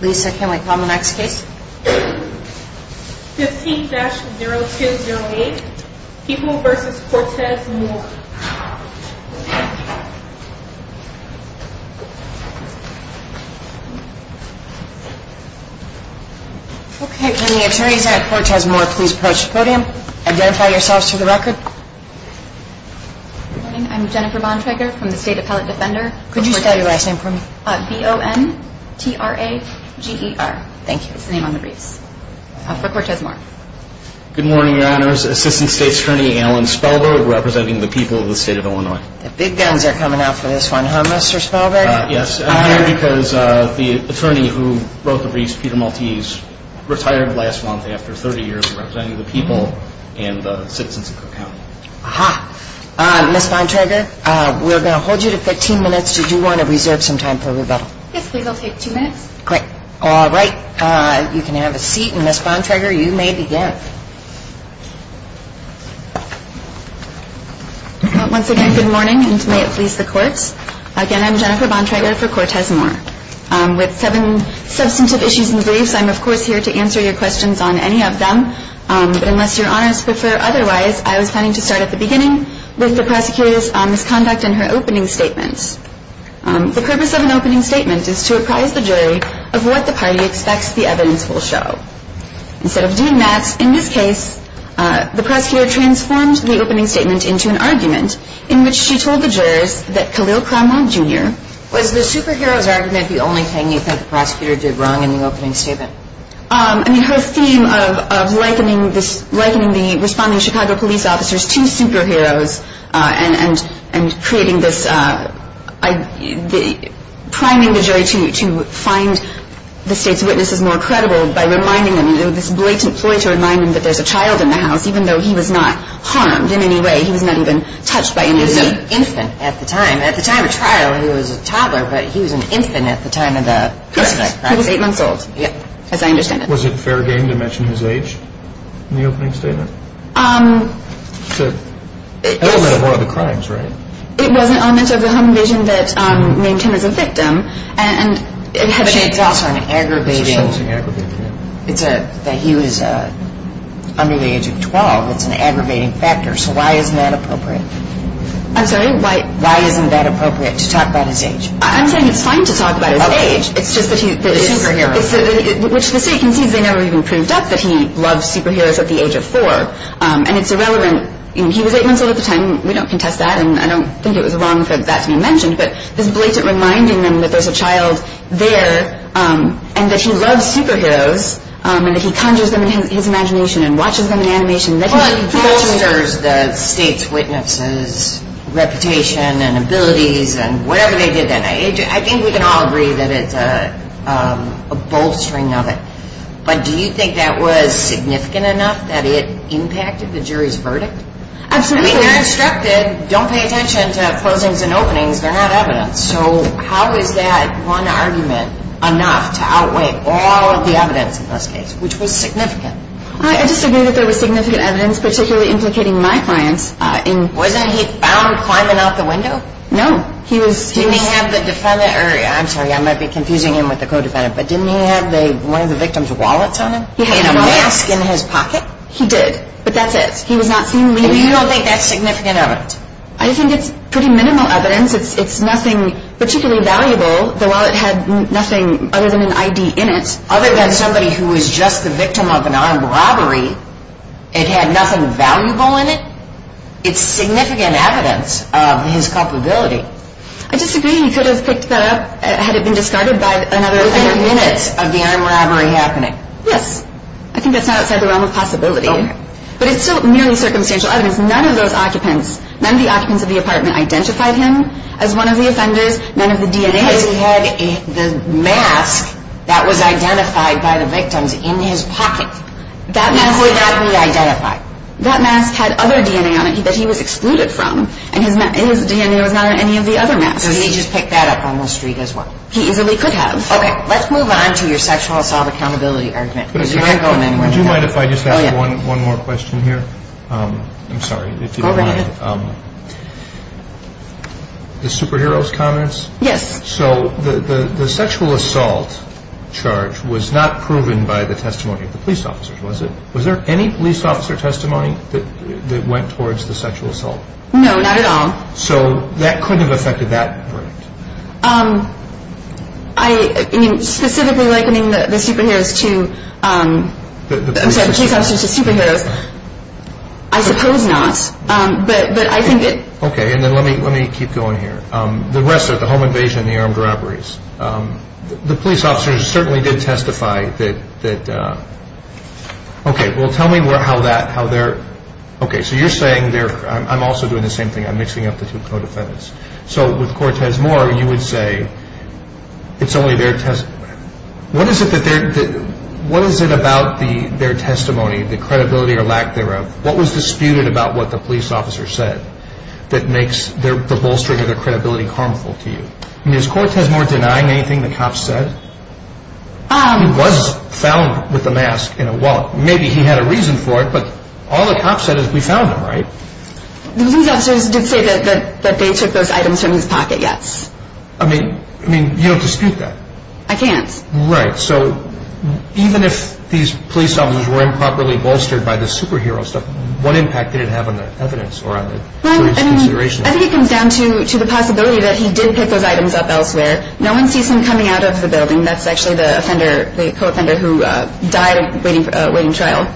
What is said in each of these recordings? Lisa, can we call the next case? 15-0208, People v. Cortez-Moore. Okay, can the attorneys at Cortez-Moore please approach the podium? Identify yourselves for the record. Good morning. I'm Jennifer Bontrager from the State Appellate Defender. Could you spell your last name for me? B-O-N-T-R-A-G-E-R. Thank you. That's the name on the briefs. For Cortez-Moore. Good morning, Your Honors. Assistant State Attorney Alan Spellberg representing the people of the State of Illinois. The big guns are coming out for this one, huh, Mr. Spellberg? Yes, I'm here because the attorney who wrote the briefs, Peter Maltese, retired last month after 30 years representing the people and the citizens of Cook County. Aha. Ms. Bontrager, we're going to hold you to 15 minutes. Did you want to reserve some time for rebuttal? Yes, please. I'll take two minutes. Great. All right. You can have a seat. And, Ms. Bontrager, you may begin. Once again, good morning, and may it please the Court. Again, I'm Jennifer Bontrager for Cortez-Moore. With seven substantive issues in the briefs, I'm, of course, here to answer your questions on any of them. But unless Your Honors prefer otherwise, I was planning to start at the beginning with the prosecutor's misconduct in her opening statement. The purpose of an opening statement is to apprise the jury of what the party expects the evidence will show. Instead of doing that, in this case, the prosecutor transformed the opening statement into an argument in which she told the jurors that Khalil Cromwell, Jr. Was the superhero's argument the only thing you think the prosecutor did wrong in the opening statement? I mean, her theme of likening the responding Chicago police officers to superheroes and creating this – priming the jury to find the state's witnesses more credible by reminding them – this blatant ploy to remind them that there's a child in the house, even though he was not harmed in any way. He was not even touched by any of them. He was an infant at the time. At the time of trial, he was a toddler, but he was an infant at the time of the crime. He was eight months old, as I understand it. Was it fair game to mention his age in the opening statement? It's an element of one of the crimes, right? It was an element of the home invasion that named him as a victim. It's also an aggravating – It's a sensing aggravation. He was under the age of 12. It's an aggravating factor, so why isn't that appropriate? I'm sorry? Why isn't that appropriate to talk about his age? I'm saying it's fine to talk about his age. It's just that he – The superhero. Which the state concedes they never even proved up that he loved superheroes at the age of four, and it's irrelevant – he was eight months old at the time. We don't contest that, and I don't think it was wrong for that to be mentioned, but this blatant reminding them that there's a child there and that he loves superheroes and that he conjures them in his imagination and watches them in animation – Well, it bolsters the state's witnesses' reputation and abilities and whatever they did that night. I think we can all agree that it's a bolstering of it, but do you think that was significant enough that it impacted the jury's verdict? Absolutely. I mean, they're instructed, don't pay attention to closings and openings. They're not evidence. So how is that one argument enough to outweigh all of the evidence in this case, which was significant? I disagree that there was significant evidence particularly implicating my client in – Wasn't he found climbing out the window? No. He was – Didn't he have the defendant – I'm sorry, I might be confusing him with the co-defendant, but didn't he have one of the victim's wallets on him? He had a mask in his pocket. He did, but that's it. He was not seen leaving. And you don't think that's significant evidence? I think it's pretty minimal evidence. It's nothing particularly valuable. The wallet had nothing other than an ID in it. Other than somebody who was just the victim of an armed robbery. It had nothing valuable in it. It's significant evidence of his culpability. I disagree. He could have picked that up had it been discarded by another offender. Within minutes of the armed robbery happening. Yes. I think that's not outside the realm of possibility. Okay. But it's still merely circumstantial evidence. None of those occupants, none of the occupants of the apartment identified him as one of the offenders. None of the DNA – Because he had the mask that was identified by the victims in his pocket. That mask would not be identified. That mask had other DNA on it that he was excluded from, and his DNA was not on any of the other masks. So he just picked that up on the street as well. He easily could have. Okay. Let's move on to your sexual assault accountability argument. Do you mind if I just ask one more question here? I'm sorry if you don't mind. Go right ahead. The superheroes comments? Yes. So the sexual assault charge was not proven by the testimony of the police officers, was it? Was there any police officer testimony that went towards the sexual assault? No, not at all. So that couldn't have affected that verdict? I mean, specifically likening the superheroes to – I'm sorry, the police officers to superheroes. I suppose not. Okay, and then let me keep going here. The rest are the home invasion and the armed robberies. The police officers certainly did testify that – okay, well, tell me how that – how they're – okay, so you're saying they're – I'm also doing the same thing. I'm mixing up the two co-defendants. So with Cortez Moore, you would say it's only their – what is it about their testimony, the credibility or lack thereof, what was disputed about what the police officer said that makes the bolstering of their credibility harmful to you? I mean, is Cortez Moore denying anything the cops said? He was found with a mask in a wallet. Maybe he had a reason for it, but all the cops said is we found him, right? The police officers did say that they took those items from his pocket, yes. I mean, you don't dispute that? I can't. Right. So even if these police officers were improperly bolstered by the superhero stuff, what impact did it have on the evidence or on the jury's consideration? Well, I mean, I think it comes down to the possibility that he did pick those items up elsewhere. No one sees him coming out of the building. That's actually the offender, the co-offender who died waiting trial.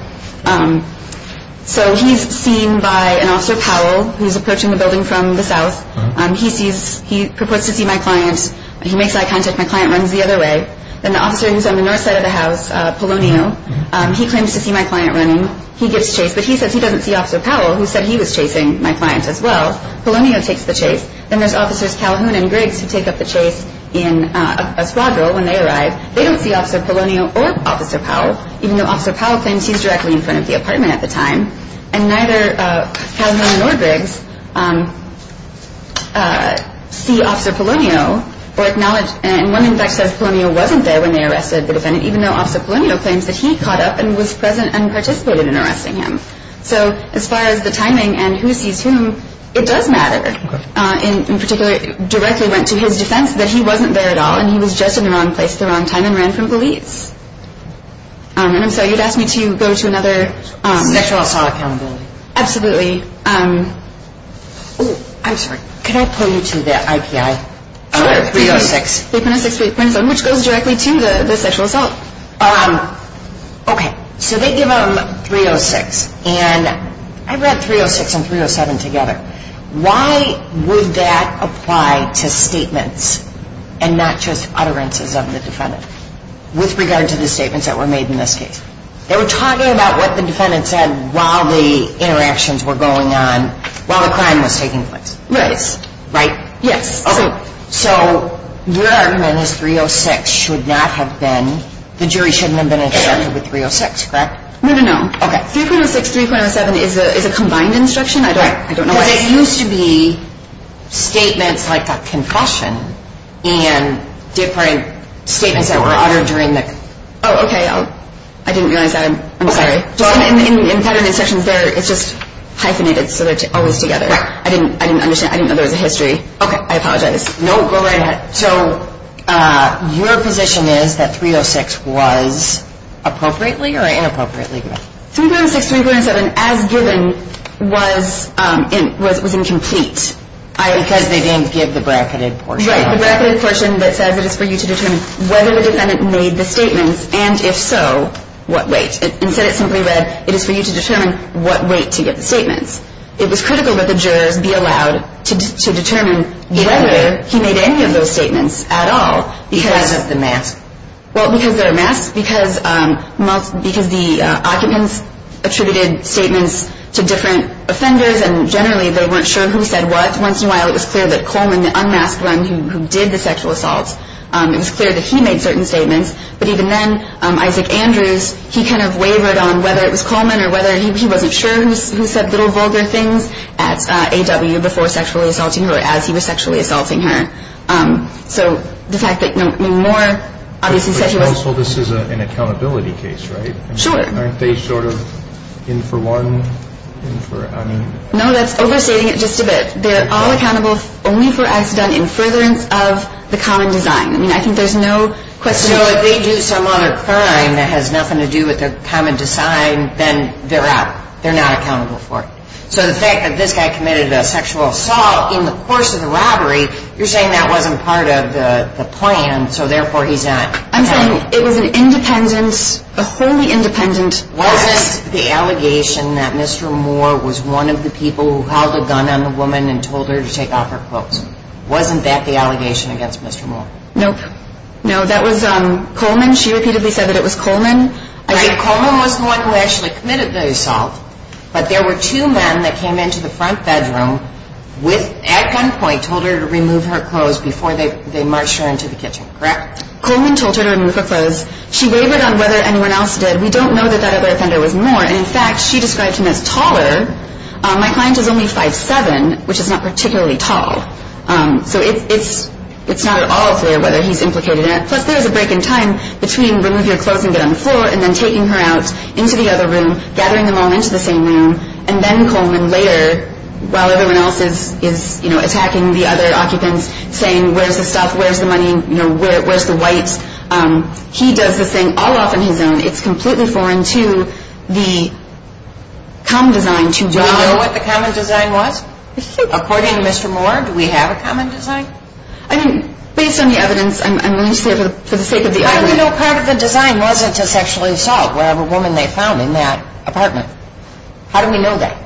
So he's seen by an officer, Powell, who's approaching the building from the south. He sees – he proposes to see my client. He makes eye contact. My client runs the other way. Then the officer who's on the north side of the house, Polonio, he claims to see my client running. He gives chase. But he says he doesn't see Officer Powell, who said he was chasing my client as well. Polonio takes the chase. Then there's Officers Calhoun and Griggs who take up the chase in a squad role when they arrive. They don't see Officer Polonio or Officer Powell, even though Officer Powell claims he's directly in front of the apartment at the time. And neither Calhoun nor Griggs see Officer Polonio or acknowledge – and one, in fact, says Polonio wasn't there when they arrested the defendant, even though Officer Polonio claims that he caught up and was present and participated in arresting him. So as far as the timing and who sees whom, it does matter. In particular, it directly went to his defense that he wasn't there at all and he was just in the wrong place at the wrong time and ran from police. And I'm sorry, you'd ask me to go to another – Sexual assault accountability. Absolutely. Oh, I'm sorry. Could I pull you to the IPI? Sure. 306. 306. Which goes directly to the sexual assault. Okay. So they give him 306. And I read 306 and 307 together. Why would that apply to statements and not just utterances of the defendant with regard to the statements that were made in this case? They were talking about what the defendant said while the interactions were going on, while the crime was taking place. Right. Right? Yes. Okay. So your argument is 306 should not have been – the jury shouldn't have been instructed with 306, correct? No, no, no. Okay. 306, 307 is a combined instruction. I don't know why. Because it used to be statements like a confession and different statements that were uttered during the – Oh, okay. I didn't realize that. I'm sorry. In federal instructions, it's just hyphenated so they're always together. Right. I didn't understand. I didn't know there was a history. Okay. I apologize. No, go right ahead. So your position is that 306 was appropriately or inappropriately given? 306, 307 as given was incomplete. Because they didn't give the bracketed portion. Right, the bracketed portion that says it is for you to determine whether the defendant made the statements and if so, what weight. Instead, it simply read it is for you to determine what weight to give the statements. It was critical that the jurors be allowed to determine whether he made any of those statements at all. Because of the mask. Well, because there are masks, because the occupants attributed statements to different offenders and generally they weren't sure who said what. Once in a while, it was clear that Coleman, the unmasked one who did the sexual assault, it was clear that he made certain statements. But even then, Isaac Andrews, he kind of wavered on whether it was Coleman or whether he wasn't sure who said little vulgar things at AW before sexually assaulting her or as he was sexually assaulting her. So the fact that more obviously sexual assault. This is an accountability case, right? Sure. Aren't they sort of in for one? No, that's overstating it just a bit. They're all accountable only for acts done in furtherance of the common design. I mean, I think there's no question. So if they do some other crime that has nothing to do with their common design, then they're out. They're not accountable for it. So the fact that this guy committed a sexual assault in the course of the robbery, you're saying that wasn't part of the plan, so therefore he's out. I'm saying it was an independent, a wholly independent case. Wasn't the allegation that Mr. Moore was one of the people who held a gun on the woman and told her to take off her clothes, wasn't that the allegation against Mr. Moore? Nope. No, that was Coleman. She repeatedly said that it was Coleman. Right, Coleman was the one who actually committed the assault. But there were two men that came into the front bedroom at gunpoint, told her to remove her clothes before they marched her into the kitchen, correct? Coleman told her to remove her clothes. She wavered on whether anyone else did. We don't know that that other offender was Moore. And, in fact, she described him as taller. My client is only 5'7", which is not particularly tall. So it's not at all clear whether he's implicated in it. Plus, there is a break in time between remove your clothes and get on the floor and then taking her out into the other room, gathering them all into the same room, and then Coleman later, while everyone else is attacking the other occupants, saying, where's the stuff, where's the money, where's the whites? He does this thing all off on his own. It's completely foreign to the common design. Do you know what the common design was? According to Mr. Moore, do we have a common design? I mean, based on the evidence, I'm willing to say for the sake of the argument. How do we know part of the design wasn't to sexually assault whatever woman they found in that apartment? How do we know that,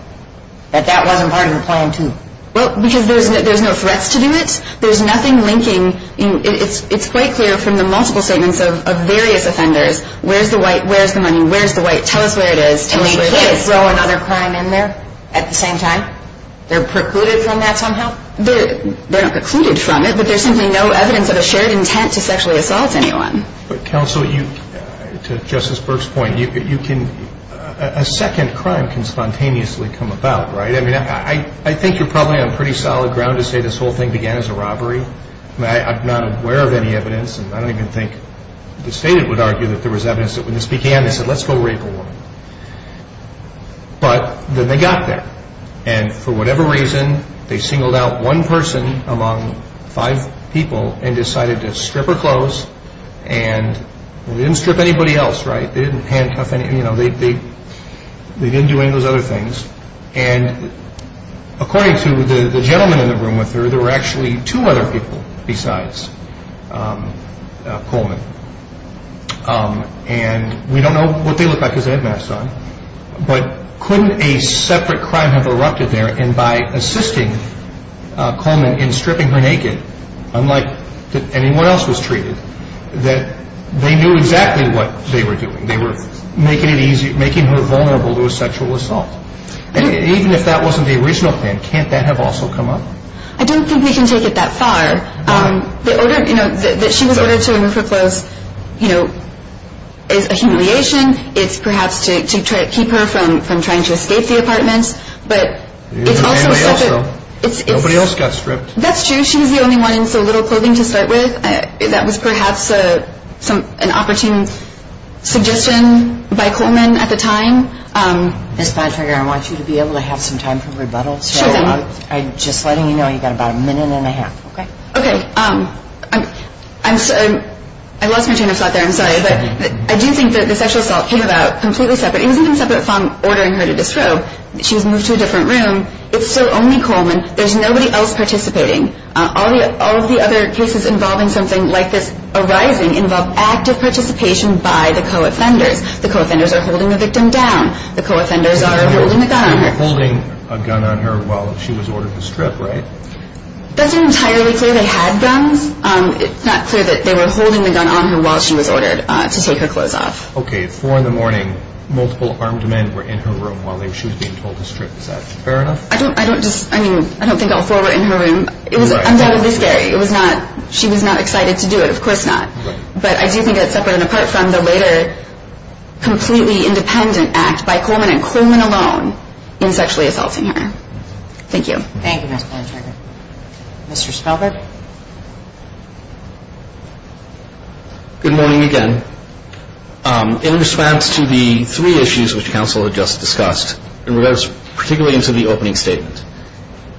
that that wasn't part of the plan, too? Well, because there's no threats to do it. There's nothing linking. It's quite clear from the multiple statements of various offenders, where's the white, where's the money, where's the white, tell us where it is, tell us where it is. And they did throw another crime in there at the same time? They're precluded from that somehow? Well, they're not precluded from it, but there's simply no evidence of a shared intent to sexually assault anyone. But, counsel, to Justice Burke's point, a second crime can spontaneously come about, right? I mean, I think you're probably on pretty solid ground to say this whole thing began as a robbery. I'm not aware of any evidence, and I don't even think the State would argue that there was evidence that when this began, they said, let's go rape a woman. But then they got there. And for whatever reason, they singled out one person among five people and decided to strip her clothes. And they didn't strip anybody else, right? They didn't handcuff any, you know, they didn't do any of those other things. And according to the gentleman in the room with her, there were actually two other people besides Coleman. And we don't know what they looked like because they had masks on. But couldn't a separate crime have erupted there? And by assisting Coleman in stripping her naked, unlike that anyone else was treated, that they knew exactly what they were doing. They were making it easy, making her vulnerable to a sexual assault. And even if that wasn't the original plan, can't that have also come up? I don't think we can take it that far. The order, you know, that she was ordered to remove her clothes, you know, is a humiliation. It's perhaps to keep her from trying to escape the apartment. Nobody else got stripped. That's true. She was the only one in so little clothing to start with. That was perhaps an opportune suggestion by Coleman at the time. Ms. Bontrager, I want you to be able to have some time for rebuttals. Sure thing. I'm just letting you know you've got about a minute and a half, okay? Okay. I lost my train of thought there, I'm sorry. But I do think that the sexual assault came about completely separate. It wasn't even separate from ordering her to disrobe. She was moved to a different room. It's still only Coleman. There's nobody else participating. All of the other cases involving something like this arising involve active participation by the co-offenders. The co-offenders are holding the victim down. The co-offenders are holding the gun on her. Holding a gun on her while she was ordered to strip, right? That's not entirely clear they had guns. It's not clear that they were holding the gun on her while she was ordered to take her clothes off. Okay, four in the morning, multiple armed men were in her room while she was being told to strip. Is that fair enough? I don't think all four were in her room. It was undoubtedly scary. She was not excited to do it. Of course not. But I do think that's separate and apart from the later completely independent act by Coleman and Coleman alone in sexually assaulting her. Thank you. Thank you, Ms. Bontrager. Mr. Spelberg. Good morning again. In response to the three issues which counsel had just discussed, particularly into the opening statement,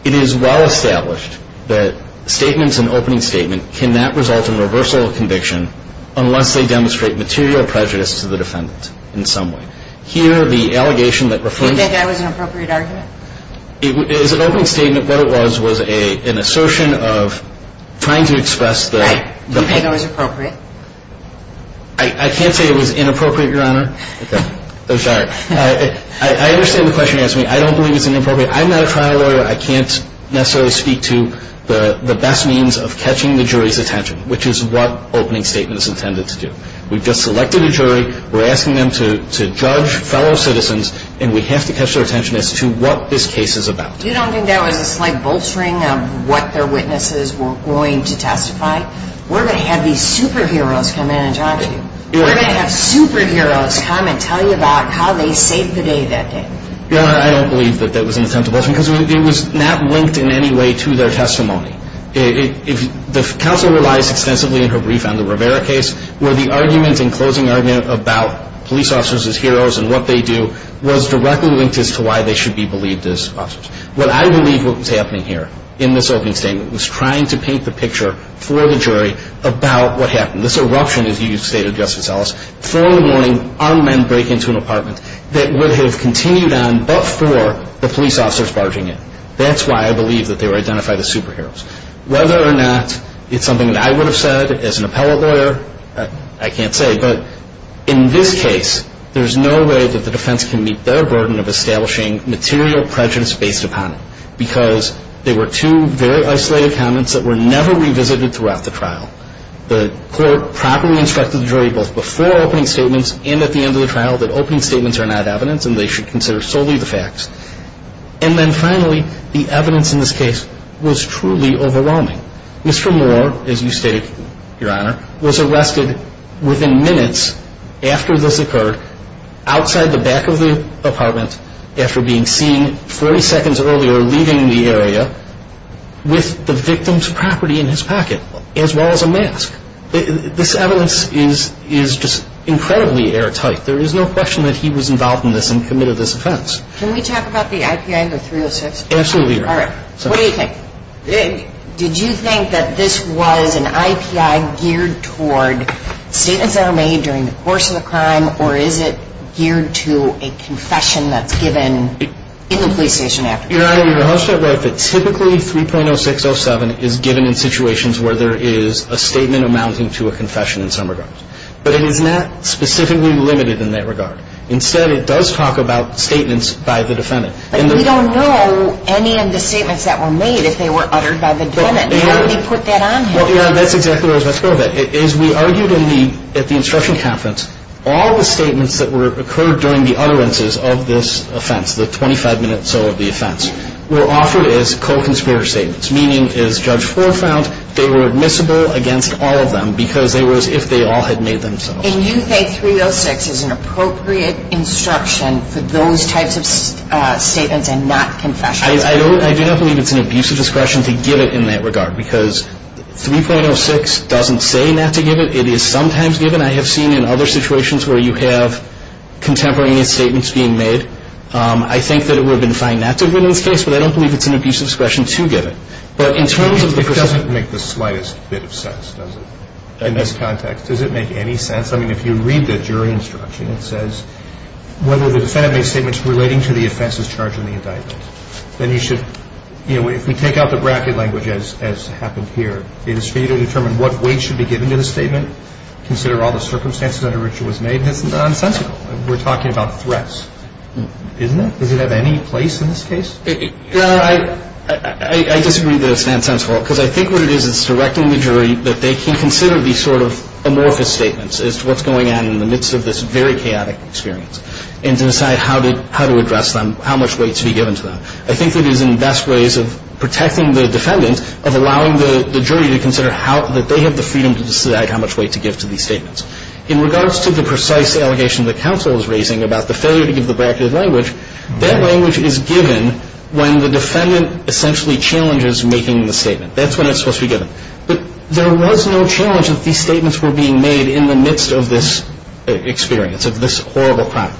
it is well established that statements in opening statement cannot result in reversal of conviction unless they demonstrate material prejudice to the defendant in some way. Here, the allegation that refers to the defendant. Do you think that was an appropriate argument? As an opening statement, what it was was an assertion of trying to express the- Right. Do you think it was appropriate? I can't say it was inappropriate, Your Honor. Okay. I'm sorry. I understand the question you're asking. I don't believe it's inappropriate. I'm not a trial lawyer. I can't necessarily speak to the best means of catching the jury's attention, which is what opening statement is intended to do. We've just selected a jury. We're asking them to judge fellow citizens, and we have to catch their attention as to what this case is about. You don't think that was a slight bolstering of what their witnesses were going to testify? We're going to have these superheroes come in and talk to you. We're going to have superheroes come and tell you about how they saved the day that day. Your Honor, I don't believe that that was an attempt to bolster, because it was not linked in any way to their testimony. The counsel relies extensively in her brief on the Rivera case, where the argument and closing argument about police officers as heroes and what they do was directly linked as to why they should be believed as officers. What I believe what was happening here in this opening statement was trying to paint the picture for the jury about what happened. This eruption, as you stated, Justice Ellis, 4 in the morning armed men break into an apartment that would have continued on before the police officers barging in. That's why I believe that they were identified as superheroes. Whether or not it's something that I would have said as an appellate lawyer, I can't say. But in this case, there's no way that the defense can meet their burden of establishing material prejudice based upon it, because they were two very isolated comments that were never revisited throughout the trial. The court properly instructed the jury both before opening statements and at the end of the trial that opening statements are not evidence and they should consider solely the facts. And then finally, the evidence in this case was truly overwhelming. Mr. Moore, as you stated, Your Honor, was arrested within minutes after this occurred, outside the back of the apartment after being seen 40 seconds earlier leaving the area with the victim's property in his pocket, as well as a mask. This evidence is just incredibly airtight. There is no question that he was involved in this and committed this offense. Can we talk about the I.P.I. under 306? Absolutely, Your Honor. All right. What do you think? Did you think that this was an I.P.I. geared toward statements that are made during the course of the crime, or is it geared to a confession that's given in the police station after the crime? Your Honor, Your Honor, Huffstet wrote that typically 3.0607 is given in situations where there is a statement amounting to a confession in some regards. But it is not specifically limited in that regard. Instead, it does talk about statements by the defendant. But we don't know any of the statements that were made if they were uttered by the defendant. How did he put that on him? Well, Your Honor, that's exactly where I was about to go with that. As we argued at the instruction conference, all the statements that occurred during the utterances of this offense, the 25 minutes or so of the offense, were offered as co-conspirator statements, meaning, as Judge Fore found, they were admissible against all of them because they were as if they all had made themselves. And you think 3.06 is an appropriate instruction for those types of statements and not confessions? I do not believe it's an abusive discretion to give it in that regard because 3.06 doesn't say not to give it. It is sometimes given. I have seen in other situations where you have contemporaneous statements being made. I think that it would have been fine not to have been in this case, but I don't believe it's an abusive discretion to give it. But in terms of the person… It doesn't make the slightest bit of sense, does it, in this context? Does it make any sense? I mean, if you read the jury instruction, it says, whether the defendant makes statements relating to the offenses charged in the indictment, then you should, you know, if we take out the bracket language as happened here, it is for you to determine what weight should be given to the statement, consider all the circumstances under which it was made. That's nonsensical. We're talking about threats, isn't it? Does it have any place in this case? Your Honor, I disagree that it's nonsensical because I think what it is, it's directing the jury that they can consider these sort of amorphous statements as to what's going on in the midst of this very chaotic experience and to decide how to address them, how much weight to be given to them. I think that it is in the best ways of protecting the defendant of allowing the jury to consider that they have the freedom to decide how much weight to give to these statements. In regards to the precise allegation the counsel is raising about the failure to give the bracket language, that language is given when the defendant essentially challenges making the statement. That's when it's supposed to be given. But there was no challenge that these statements were being made in the midst of this experience, of this horrible crime.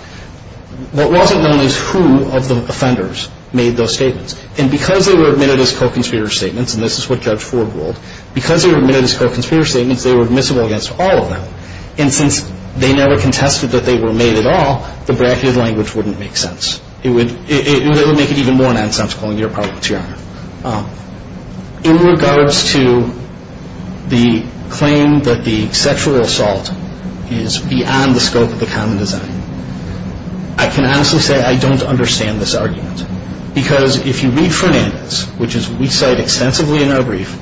What wasn't known is who of the offenders made those statements. And because they were admitted as co-conspirator statements, and this is what Judge Ford ruled, because they were admitted as co-conspirator statements, they were admissible against all of them. And since they never contested that they were made at all, the bracket language wouldn't make sense. It would make it even more nonsensical and be a problem to your honor. In regards to the claim that the sexual assault is beyond the scope of the common design, I can honestly say I don't understand this argument. Because if you read Fernandez, which we cite extensively in our brief,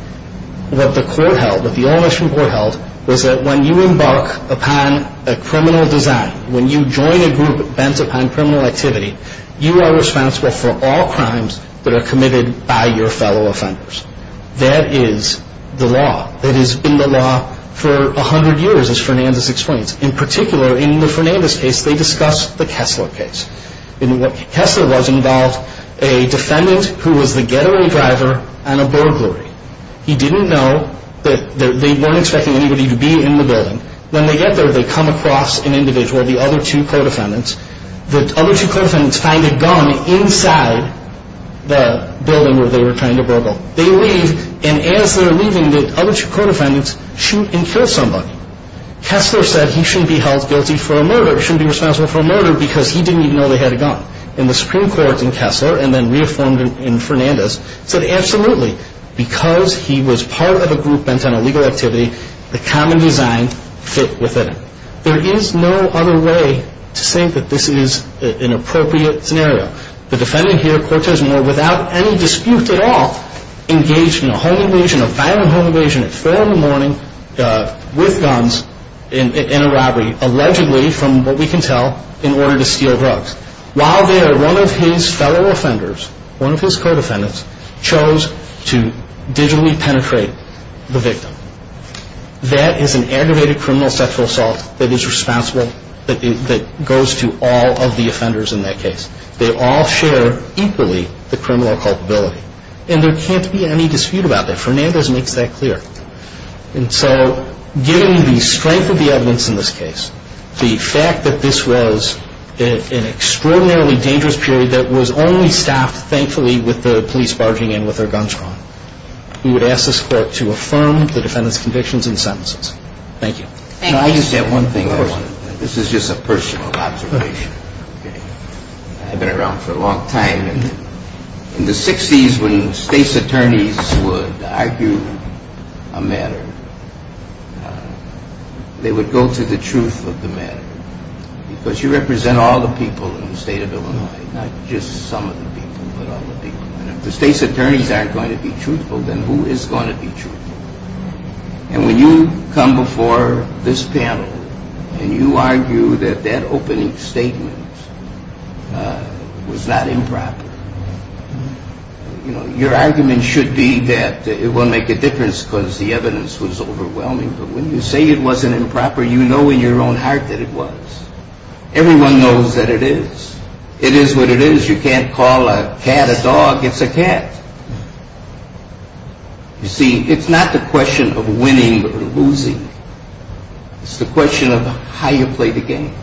what the court held, what the All-Michigan Court held, was that when you embark upon a criminal design, when you join a group bent upon criminal activity, you are responsible for all crimes that are committed by your fellow offenders. That is the law. That has been the law for 100 years, as Fernandez explains. In particular, in the Fernandez case, they discussed the Kessler case. Kessler was involved, a defendant who was the getaway driver and a burglary. He didn't know that they weren't expecting anybody to be in the building. When they get there, they come across an individual, the other two co-defendants. The other two co-defendants find a gun inside the building where they were trying to burgle. They leave, and as they're leaving, the other two co-defendants shoot and kill somebody. Kessler said he shouldn't be held guilty for a murder, shouldn't be responsible for a murder, because he didn't even know they had a gun. And the Supreme Court in Kessler, and then reaffirmed in Fernandez, said absolutely. Because he was part of a group bent on illegal activity, the common design fit within him. There is no other way to say that this is an appropriate scenario. The defendant here, Cortez Moore, without any dispute at all, engaged in a home invasion, a violent home invasion at 4 in the morning with guns in a robbery, allegedly, from what we can tell, in order to steal drugs. While there, one of his fellow offenders, one of his co-defendants, chose to digitally penetrate the victim. That is an aggravated criminal sexual assault that is responsible, that goes to all of the offenders in that case. They all share equally the criminal culpability. And there can't be any dispute about that. Fernandez makes that clear. And so, given the strength of the evidence in this case, the fact that this was an extraordinarily dangerous period that was only staffed, thankfully, with the police barging in with their guns drawn, we would ask this court to affirm the defendant's convictions and sentences. Thank you. Thank you. Can I just add one thing? Of course. This is just a personal observation. I've been around for a long time. In the 60s, when state's attorneys would argue a matter, they would go to the truth of the matter. Because you represent all the people in the state of Illinois, not just some of the people, but all the people. And if the state's attorneys aren't going to be truthful, then who is going to be truthful? And when you come before this panel, and you argue that that opening statement was not improper, your argument should be that it won't make a difference because the evidence was overwhelming. But when you say it wasn't improper, you know in your own heart that it was. Everyone knows that it is. It is what it is. You can't call a cat a dog. It's a cat. You see, it's not the question of winning or losing. It's the question of how you play the game.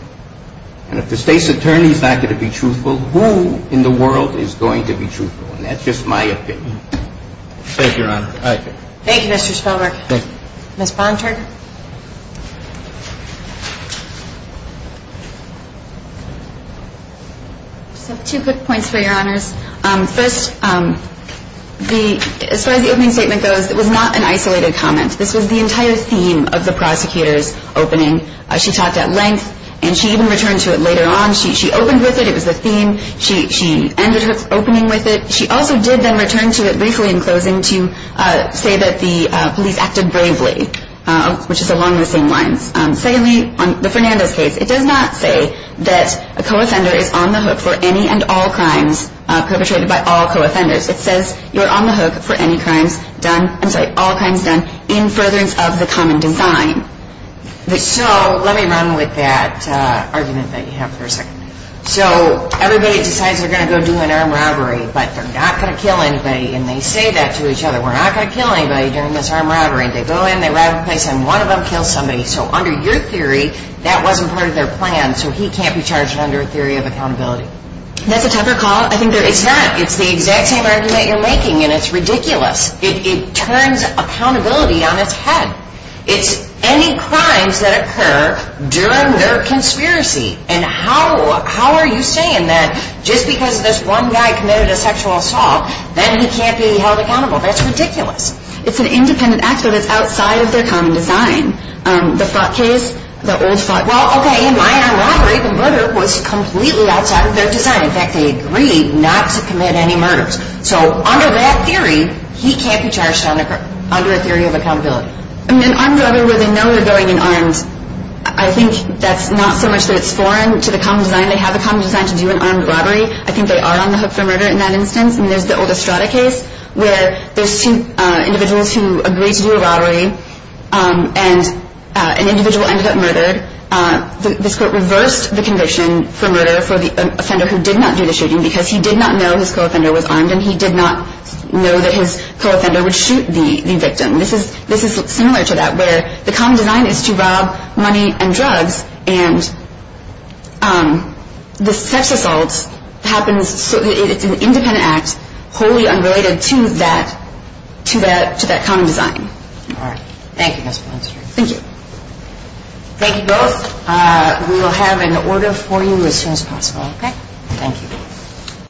And if the state's attorney is not going to be truthful, who in the world is going to be truthful? And that's just my opinion. Thank you, Your Honor. Thank you, Mr. Spelmark. Thank you. Ms. Barnhart. Just two quick points for Your Honors. First, as far as the opening statement goes, it was not an isolated comment. This was the entire theme of the prosecutor's opening. She talked at length, and she even returned to it later on. She opened with it. It was the theme. She ended her opening with it. She also did then return to it briefly in closing to say that the police acted bravely, which is along the same lines. Secondly, on the Fernandez case, it does not say that a co-offender is on the hook for any and all crimes perpetrated by all co-offenders. It says you're on the hook for any crimes done, I'm sorry, all crimes done in furtherance of the common design. So let me run with that argument that you have for a second. So everybody decides they're going to go do an armed robbery, but they're not going to kill anybody, and they say that to each other. We're not going to kill anybody during this armed robbery. They go in, they rob a place, and one of them kills somebody. So under your theory, that wasn't part of their plan, so he can't be charged under a theory of accountability. That's a tougher call. It's not. It's the exact same argument you're making, and it's ridiculous. It turns accountability on its head. It's any crimes that occur during their conspiracy. And how are you saying that just because this one guy committed a sexual assault, then he can't be held accountable? That's ridiculous. It's an independent act, but it's outside of their common design. The Fott case, the old Fott. Well, okay, in my armed robbery, the murder was completely outside of their design. In fact, they agreed not to commit any murders. So under that theory, he can't be charged under a theory of accountability. I mean, an armed robbery where they know they're going in armed, I think that's not so much that it's foreign to the common design. They have the common design to do an armed robbery. I think they are on the hook for murder in that instance. I mean, there's the old Estrada case where there's two individuals who agree to do a robbery, and an individual ended up murdered. This court reversed the condition for murder for the offender who did not do the shooting because he did not know his co-offender was armed, and he did not know that his co-offender would shoot the victim. This is similar to that where the common design is to rob money and drugs, and the sex assault happens so that it's an independent act, wholly unrelated to that common design. All right. Thank you, Ms. Blunt-Street. Thank you. Thank you both. We will have an order for you as soon as possible. Okay. Thank you.